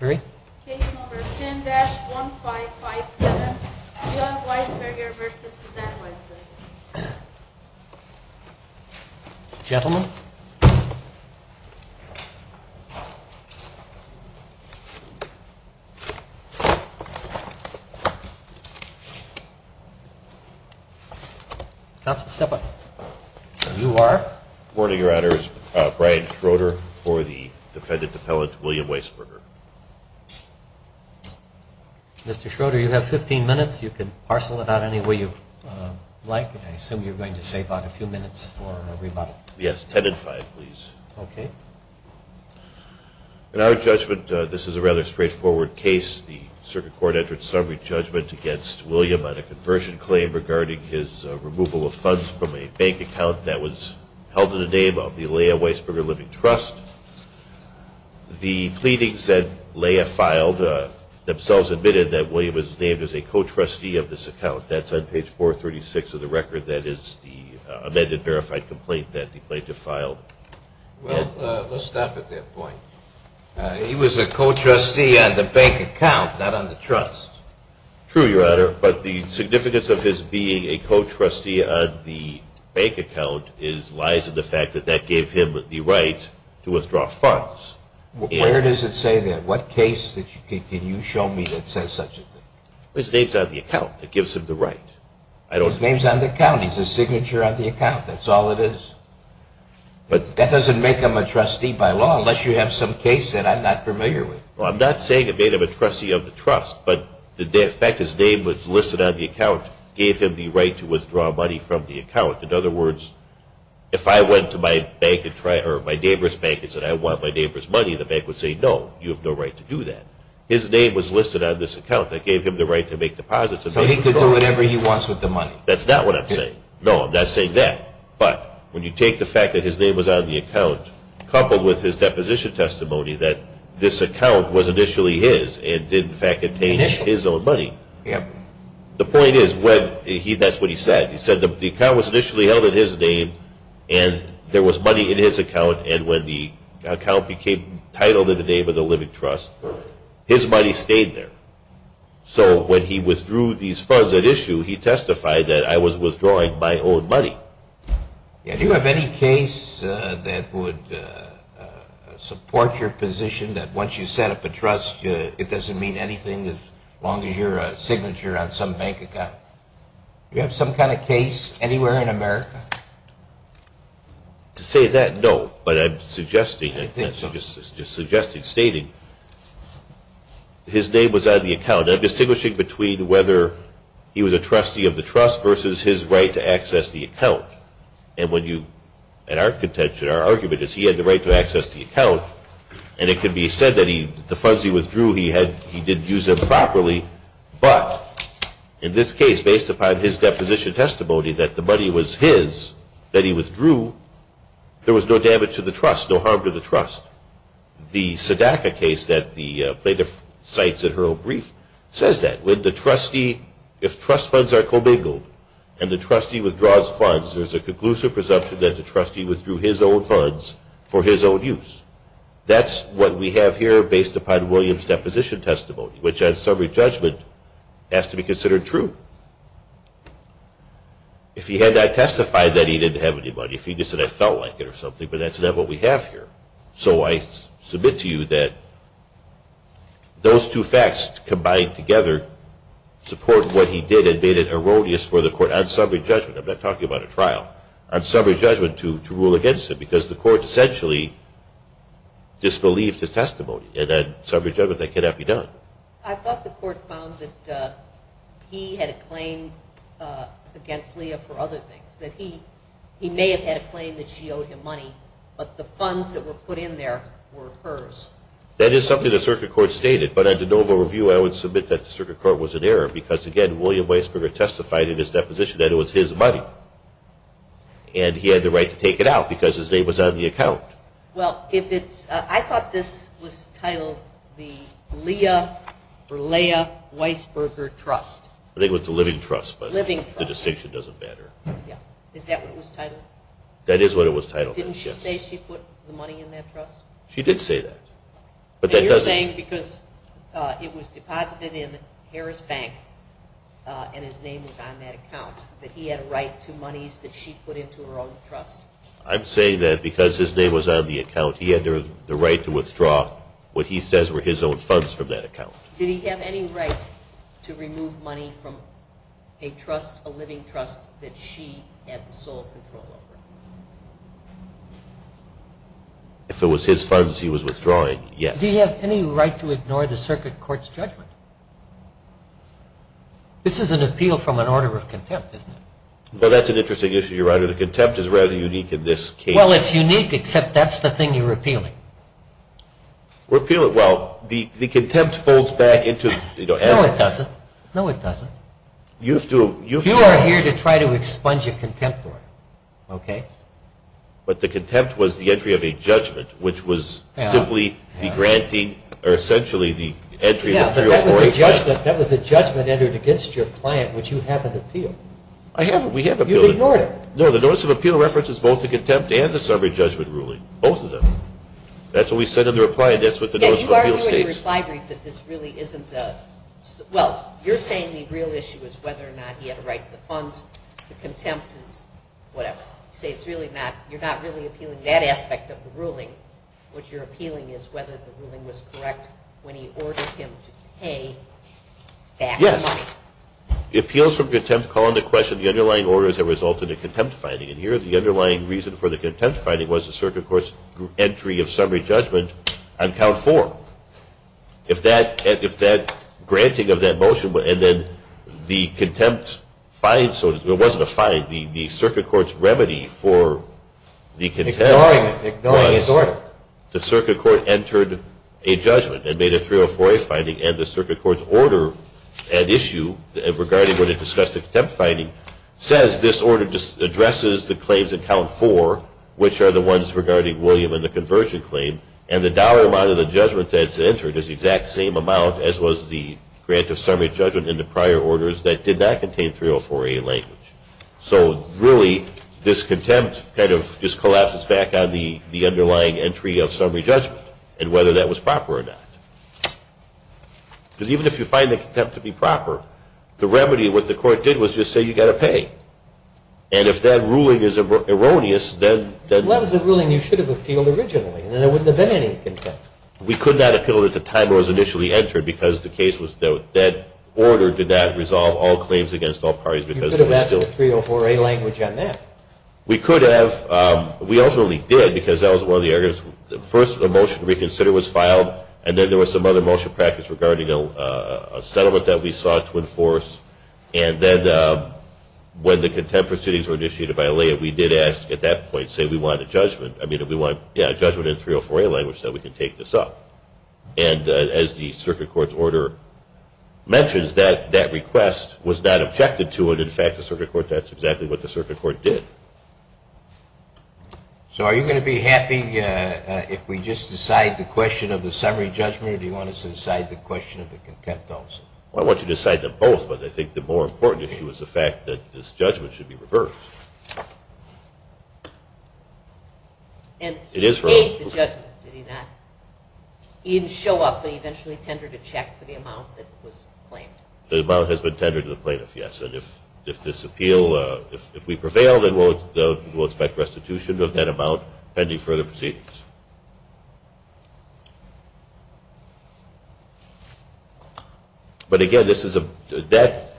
Case number 10-1557 William Wiesberger v. Suzanne Wiesberger Gentlemen Counsel step up Mr. Schroeder, you have 15 minutes. You can parcel it out any way you like. I assume you're going to save out a few minutes for a rebuttal. Yes, 10 and 5 please. Okay. In our judgment, this is a rather straightforward case. The circuit court entered summary judgment against William on a conversion claim regarding his removal of funds from a bank account that was held in the name of the Leah Wiesberger Living Trust. The pleadings that Leah filed themselves admitted that William was named as a co-trustee of this account. That's on page 436 of the record. That is the amended verified complaint that the plaintiff filed. Well, let's stop at that point. He was a co-trustee on the bank account, not on the trust. True, Your Honor, but the significance of his being a co-trustee on the bank account lies in the fact that that gave him the right to withdraw funds. Where does it say that? What case can you show me that says such a thing? His name's on the account. It gives him the right. His name's on the account. He's a signature on the account. That's all it is. That doesn't make him a trustee by law unless you have some case that I'm not familiar with. Well, I'm not saying it made him a trustee of the trust, but the fact his name was listed on the account gave him the right to withdraw money from the account. In other words, if I went to my neighbor's bank and said, I want my neighbor's money, the bank would say, no, you have no right to do that. His name was listed on this account. That gave him the right to make deposits. So he could do whatever he wants with the money. That's not what I'm saying. No, I'm not saying that. But when you take the fact that his name was on the account coupled with his deposition testimony that this account was initially his and did in fact contain his own money, the point is that's what he said. He said the account was initially held in his name and there was money in his account, and when the account became titled in the name of the living trust, his money stayed there. So when he withdrew these funds at issue, he testified that I was withdrawing my own money. Do you have any case that would support your position that once you set up a trust, it doesn't mean anything as long as you're a signature on some bank account? Do you have some kind of case anywhere in America? To say that, no. But I'm suggesting, just suggesting, stating his name was on the account. I'm distinguishing between whether he was a trustee of the trust versus his right to access the account. And when you, at our contention, our argument is he had the right to access the account, and it could be said that the funds he withdrew, he didn't use them properly. But in this case, based upon his deposition testimony that the money was his that he withdrew, there was no damage to the trust, no harm to the trust. The SEDACA case that the plaintiff cites in her own brief says that. When the trustee, if trust funds are commingled and the trustee withdraws funds, there's a conclusive presumption that the trustee withdrew his own funds for his own use. That's what we have here based upon William's deposition testimony, which on summary judgment has to be considered true. If he had not testified that he didn't have any money, if he just said, I felt like it or something, but that's not what we have here. So I submit to you that those two facts combined together support what he did and made it erroneous for the court on summary judgment, I'm not talking about a trial, on summary judgment to rule against him because the court essentially disbelieved his testimony. And on summary judgment that cannot be done. I thought the court found that he had a claim against Leah for other things, that he may have had a claim that she owed him money, but the funds that were put in there were hers. That is something the circuit court stated, but under noble review, I would submit that the circuit court was in error because, again, William Weisberger testified in his deposition that it was his money and he had the right to take it out because his name was on the account. Well, I thought this was titled the Leah Berleah Weisberger Trust. I think it was the Living Trust, but the distinction doesn't matter. Is that what it was titled? That is what it was titled, yes. Didn't she say she put the money in that trust? She did say that. And you're saying because it was deposited in Harris Bank and his name was on that account, that he had a right to monies that she put into her own trust? I'm saying that because his name was on the account, he had the right to withdraw what he says were his own funds from that account. Did he have any right to remove money from a trust, a Living Trust, that she had the sole control over? If it was his funds he was withdrawing, yes. Did he have any right to ignore the circuit court's judgment? This is an appeal from an order of contempt, isn't it? Well, that's an interesting issue, your Honor. The contempt is rather unique in this case. Well, it's unique except that's the thing you're appealing. We're appealing, well, the contempt folds back into, you know, as… No, it doesn't. No, it doesn't. You are here to try to expunge a contempt order, okay? But the contempt was the entry of a judgment, which was simply the granting or essentially the entry of a 304… Yes, but that was a judgment entered against your client, which you haven't appealed. I haven't. We haven't appealed it. No, the notice of appeal references both the contempt and the summary judgment ruling, both of them. That's what we said in the reply, and that's what the notice of appeal states. You argue in your reply brief that this really isn't a… Well, you're saying the real issue is whether or not he had a right to the funds. The contempt is whatever. You say it's really not, you're not really appealing that aspect of the ruling. What you're appealing is whether the ruling was correct when he ordered him to pay back the money. Yes. Appeals from contempt call into question the underlying orders that resulted in contempt finding, and here the underlying reason for the contempt finding was the circuit court's entry of summary judgment on count four. If that granting of that motion and then the contempt find, so it wasn't a find, the circuit court's remedy for the contempt was… Ignoring it, ignoring his order. The circuit court entered a judgment and made a 304A finding, and the circuit court's order at issue regarding what it discussed in contempt finding says this order just addresses the claims in count four, which are the ones regarding William and the conversion claim, and the dollar amount of the judgment that's entered is the exact same amount as was the grant of summary judgment in the prior orders that did not contain 304A language. So really this contempt kind of just collapses back on the underlying entry of summary judgment and whether that was proper or not. Because even if you find the contempt to be proper, the remedy, what the court did was just say you've got to pay. And if that ruling is erroneous, then… Well, that was the ruling you should have appealed originally, and there wouldn't have been any contempt. We could not appeal it at the time it was initially entered because the case was, that order did not resolve all claims against all parties because it was still… You could have asked for 304A language on that. We could have. We ultimately did because that was one of the areas. First, a motion to reconsider was filed, and then there was some other motion practice regarding a settlement that we sought to enforce. And then when the contempt proceedings were initiated by LA, we did ask at that point, say, we want a judgment. I mean, we want a judgment in 304A language so we can take this up. And as the circuit court's order mentions, that request was not objected to, but in fact the circuit court, that's exactly what the circuit court did. So are you going to be happy if we just decide the question of the summary judgment or do you want us to decide the question of the contempt also? Well, I want you to decide them both, but I think the more important issue is the fact that this judgment should be reversed. And he made the judgment, did he not? He didn't show up, but he eventually tendered a check for the amount that was claimed. The amount has been tendered to the plaintiff, yes. And if this appeal, if we prevail, then we'll expect restitution of that amount pending further proceedings. But again, this is a, that,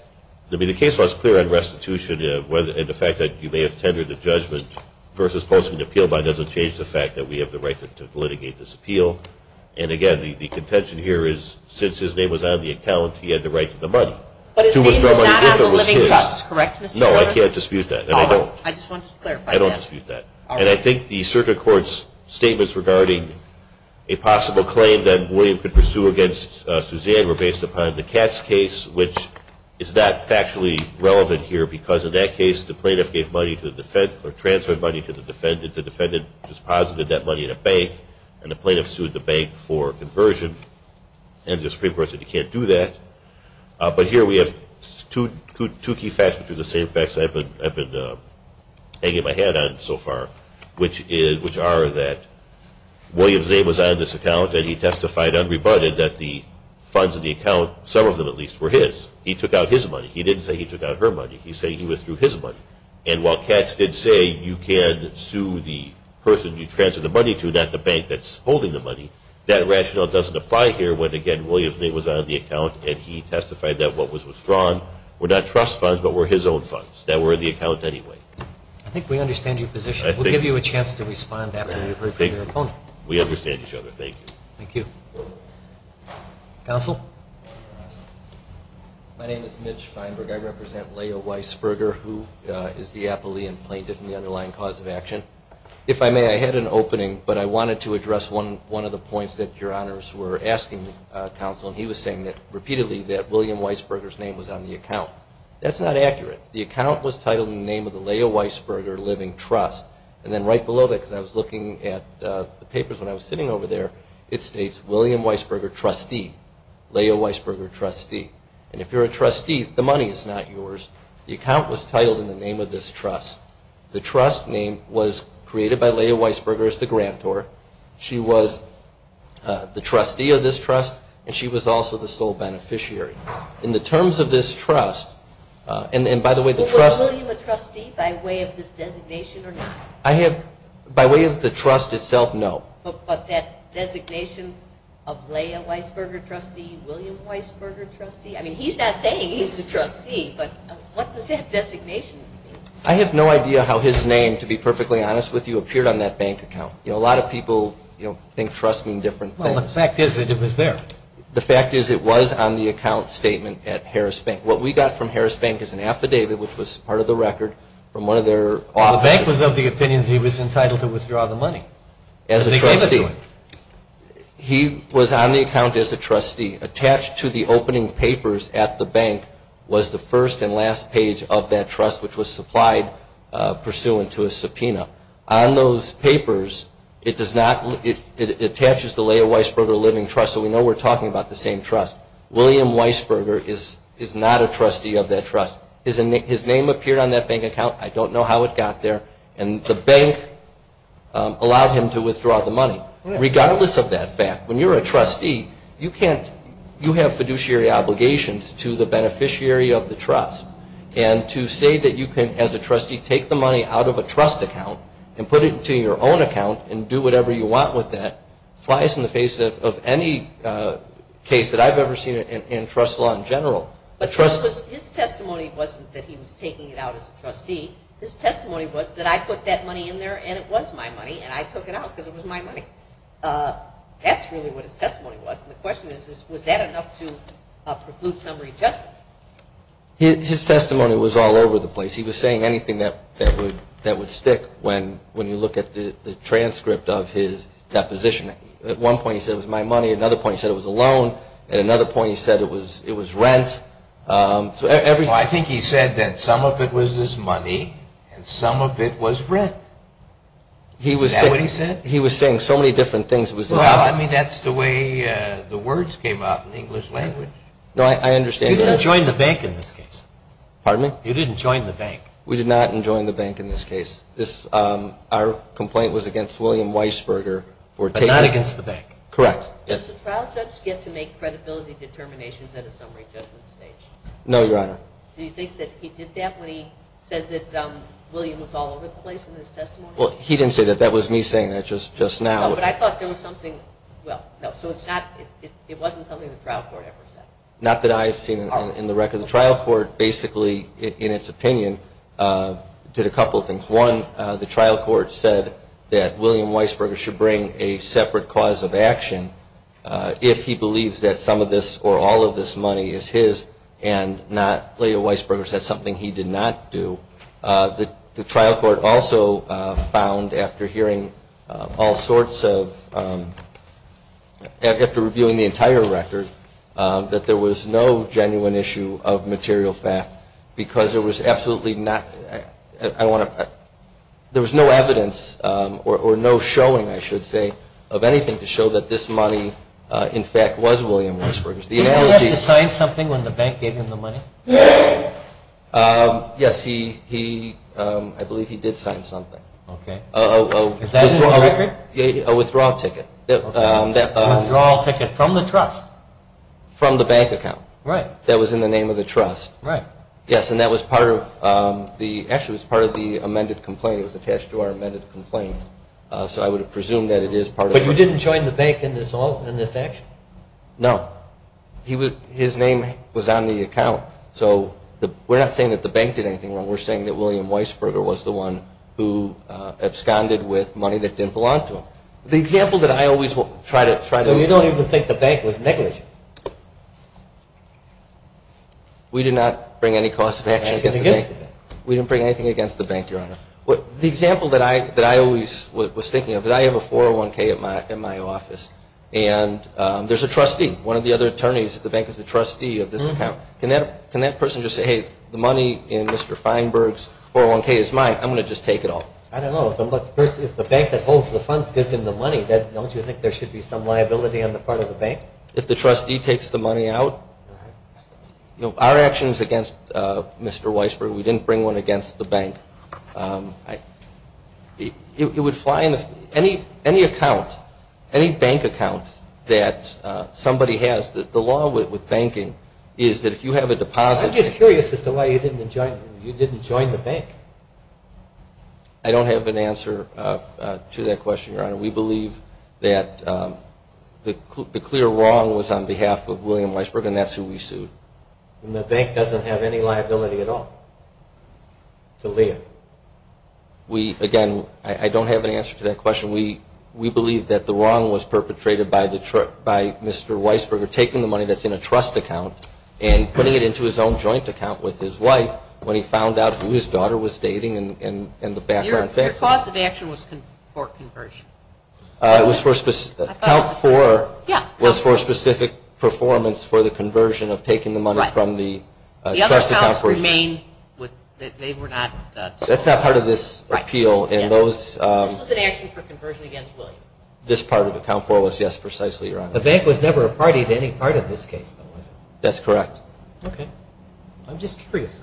I mean, the case law is clear on restitution and the fact that you may have tendered a judgment versus posting an appeal bond doesn't change the fact that we have the right to litigate this appeal. And again, the contention here is since his name was on the account, he had the right to the money to withdraw money if it was his. But his name was not on the living trust, correct, Mr. Schroeder? No, I can't dispute that, and I don't. I just wanted to clarify that. I don't dispute that. And I think the circuit court's statements regarding a possible claim that William could pursue against Suzanne were based upon the Katz case, which is not factually relevant here because in that case the plaintiff gave money to the defendant or transferred money to the defendant, the defendant just posited that money in a bank, and the plaintiff sued the bank for conversion. And the Supreme Court said he can't do that. But here we have two key facts, which are the same facts I've been hanging my hat on so far, which are that William's name was on this account and he testified unrebutted that the funds in the account, some of them at least, were his. He took out his money. He didn't say he took out her money. He said he withdrew his money. And while Katz did say you can sue the person you transferred the money to, not the bank that's holding the money, that rationale doesn't apply here when, again, William's name was on the account and he testified that what was withdrawn were not trust funds but were his own funds that were in the account anyway. I think we understand your position. We'll give you a chance to respond after we've heard from your opponent. We understand each other. Thank you. Thank you. Counsel? My name is Mitch Feinberg. I represent Leah Weisberger, who is the appellee and plaintiff in the underlying cause of action. If I may, I had an opening, but I wanted to address one of the points that Your Honors were asking, Counsel, and he was saying repeatedly that William Weisberger's name was on the account. That's not accurate. The account was titled in the name of the Leah Weisberger Living Trust. And then right below that, because I was looking at the papers when I was sitting over there, it states William Weisberger, trustee, Leah Weisberger, trustee. And if you're a trustee, the money is not yours. The account was titled in the name of this trust. The trust name was created by Leah Weisberger as the grantor. She was the trustee of this trust, and she was also the sole beneficiary. In the terms of this trust, and by the way, the trust. Was William a trustee by way of this designation or not? By way of the trust itself, no. But that designation of Leah Weisberger, trustee, William Weisberger, trustee, I mean, he's not saying he's a trustee, but what does that designation mean? I have no idea how his name, to be perfectly honest with you, appeared on that bank account. You know, a lot of people, you know, think trust means different things. Well, the fact is that it was there. The fact is it was on the account statement at Harris Bank. What we got from Harris Bank is an affidavit, which was part of the record from one of their offices. The bank was of the opinion that he was entitled to withdraw the money. As a trustee. He was on the account as a trustee. Attached to the opening papers at the bank was the first and last page of that trust, which was supplied pursuant to a subpoena. On those papers, it does not, it attaches the Leah Weisberger Living Trust, so we know we're talking about the same trust. William Weisberger is not a trustee of that trust. His name appeared on that bank account. I don't know how it got there. And the bank allowed him to withdraw the money. Regardless of that fact, when you're a trustee, you can't, you have fiduciary obligations to the beneficiary of the trust. And to say that you can, as a trustee, take the money out of a trust account and put it into your own account and do whatever you want with that, flies in the face of any case that I've ever seen in trust law in general. His testimony wasn't that he was taking it out as a trustee. His testimony was that I put that money in there, and it was my money, and I took it out because it was my money. That's really what his testimony was. And the question is, was that enough to preclude summary judgment? His testimony was all over the place. He was saying anything that would stick when you look at the transcript of his deposition. At one point he said it was my money. At another point he said it was a loan. At another point he said it was rent. Well, I think he said that some of it was his money and some of it was rent. Is that what he said? He was saying so many different things. Well, I mean, that's the way the words came out in the English language. No, I understand that. You didn't join the bank in this case. Pardon me? You didn't join the bank. We did not join the bank in this case. Our complaint was against William Weisberger. But not against the bank. Correct. Does the trial judge get to make credibility determinations at a summary judgment stage? No, Your Honor. Do you think that he did that when he said that William was all over the place in his testimony? Well, he didn't say that. That was me saying that just now. No, but I thought there was something – well, no. So it's not – it wasn't something the trial court ever said. Not that I've seen it in the record. The trial court basically, in its opinion, did a couple of things. One, the trial court said that William Weisberger should bring a separate cause of action if he believes that some of this or all of this money is his and not Leo Weisberger's. That's something he did not do. The trial court also found, after hearing all sorts of – after reviewing the entire record, that there was no genuine issue of material fact because there was absolutely not – I don't want to – there was no evidence or no showing, I should say, of anything to show that this money, in fact, was William Weisberger's. Did he have to sign something when the bank gave him the money? Yes, he – I believe he did sign something. Okay. Is that in the record? A withdrawal ticket. A withdrawal ticket from the trust? From the bank account. Right. That was in the name of the trust. Right. Yes, and that was part of the – actually, it was part of the amended complaint. It was attached to our amended complaint. So I would presume that it is part of – But you didn't join the bank in this action? No. His name was on the account. So we're not saying that the bank did anything wrong. We're saying that William Weisberger was the one who absconded with money that didn't belong to him. The example that I always try to – So you don't even think the bank was negligent? We did not bring any cost of actions against the bank. We didn't bring anything against the bank, Your Honor. The example that I always was thinking of is I have a 401K in my office, and there's a trustee. One of the other attorneys at the bank is a trustee of this account. Can that person just say, hey, the money in Mr. Feinberg's 401K is mine. I'm going to just take it all. I don't know. If the bank that holds the funds gives him the money, don't you think there should be some liability on the part of the bank? If the trustee takes the money out, our actions against Mr. Weisberger, we didn't bring one against the bank. It would fly in any account, any bank account that somebody has. The law with banking is that if you have a deposit – I'm just curious as to why you didn't join the bank. I don't have an answer to that question, Your Honor. We believe that the clear wrong was on behalf of William Weisberger, and that's who we sued. And the bank doesn't have any liability at all to Liam? Again, I don't have an answer to that question. We believe that the wrong was perpetrated by Mr. Weisberger taking the money that's in a trust account and putting it into his own joint account with his wife when he found out who his daughter was dating and the background facts. Your cause of action was for conversion. It was for specific – count four was for specific performance for the conversion of taking the money from the trust account. The other counts remained – they were not – That's not part of this appeal. This was an action for conversion against William. This part of the count four was, yes, precisely, Your Honor. The bank was never a party to any part of this case, though, was it? That's correct. Okay. I'm just curious.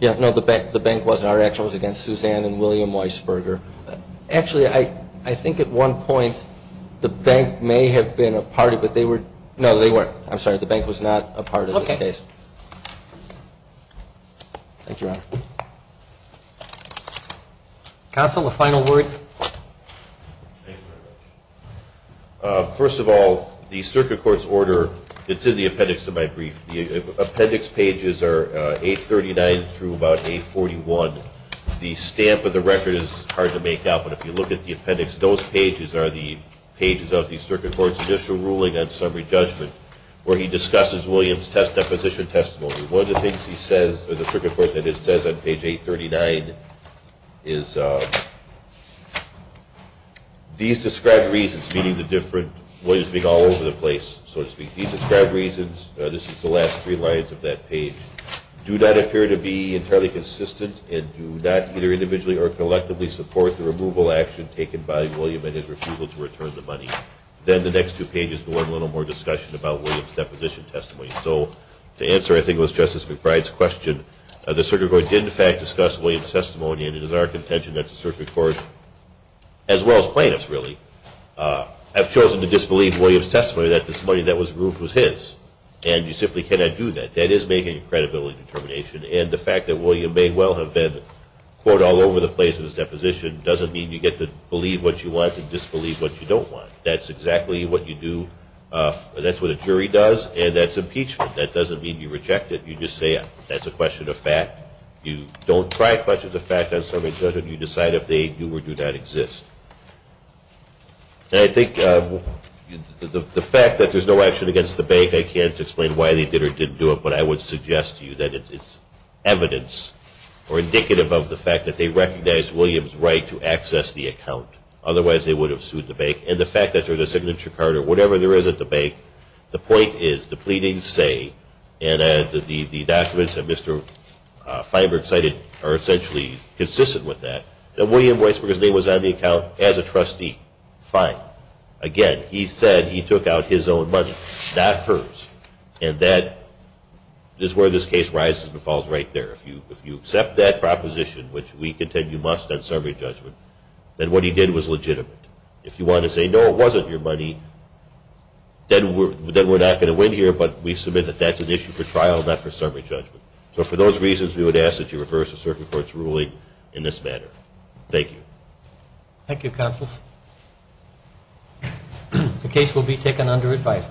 No, the bank wasn't. Our action was against Suzanne and William Weisberger. Actually, I think at one point the bank may have been a party, but they were – no, they weren't. I'm sorry. The bank was not a part of this case. Okay. Thank you, Your Honor. Counsel, a final word? Thank you very much. First of all, the circuit court's order, it's in the appendix of my brief. The appendix pages are 839 through about 841. The stamp of the record is hard to make out, but if you look at the appendix, those pages are the pages of the circuit court's judicial ruling and summary judgment where he discusses William's deposition testimony. One of the things he says – or the circuit court that it says on page 839 is, these described reasons, meaning the different – William's being all over the place, so to speak. These described reasons, this is the last three lines of that page, do not appear to be entirely consistent and do not either individually or collectively support the removal action taken by William and his refusal to return the money. Then the next two pages go into a little more discussion about William's deposition testimony. So to answer, I think it was Justice McBride's question, the circuit court did, in fact, discuss William's testimony, and it is our contention that the circuit court, as well as plaintiffs, really, have chosen to disbelieve William's testimony that the money that was removed was his, and you simply cannot do that. That is making a credibility determination, and the fact that William may well have been caught all over the place in his deposition doesn't mean you get to believe what you want and disbelieve what you don't want. That's exactly what you do – that's what a jury does, and that's impeachment. That doesn't mean you reject it. You just say that's a question of fact. You don't try to question the fact on a survey judgment. You decide if they do or do not exist. I think the fact that there's no action against the bank, I can't explain why they did or didn't do it, but I would suggest to you that it's evidence or indicative of the fact that they recognized William's right to access the account. Otherwise, they would have sued the bank. And the fact that there's a signature card or whatever there is at the bank, the point is the pleadings say, and the documents that Mr. Feinberg cited are essentially consistent with that, that William Weisberg's name was on the account as a trustee. Fine. Again, he said he took out his own money, not hers, and that is where this case rises and falls right there. If you accept that proposition, which we contend you must on survey judgment, then what he did was legitimate. If you want to say, no, it wasn't your money, then we're not going to win here, but we submit that that's an issue for trial, not for survey judgment. So for those reasons, we would ask that you reverse the circuit court's ruling in this manner. Thank you. Thank you, counsels. The case will be taken under advisory.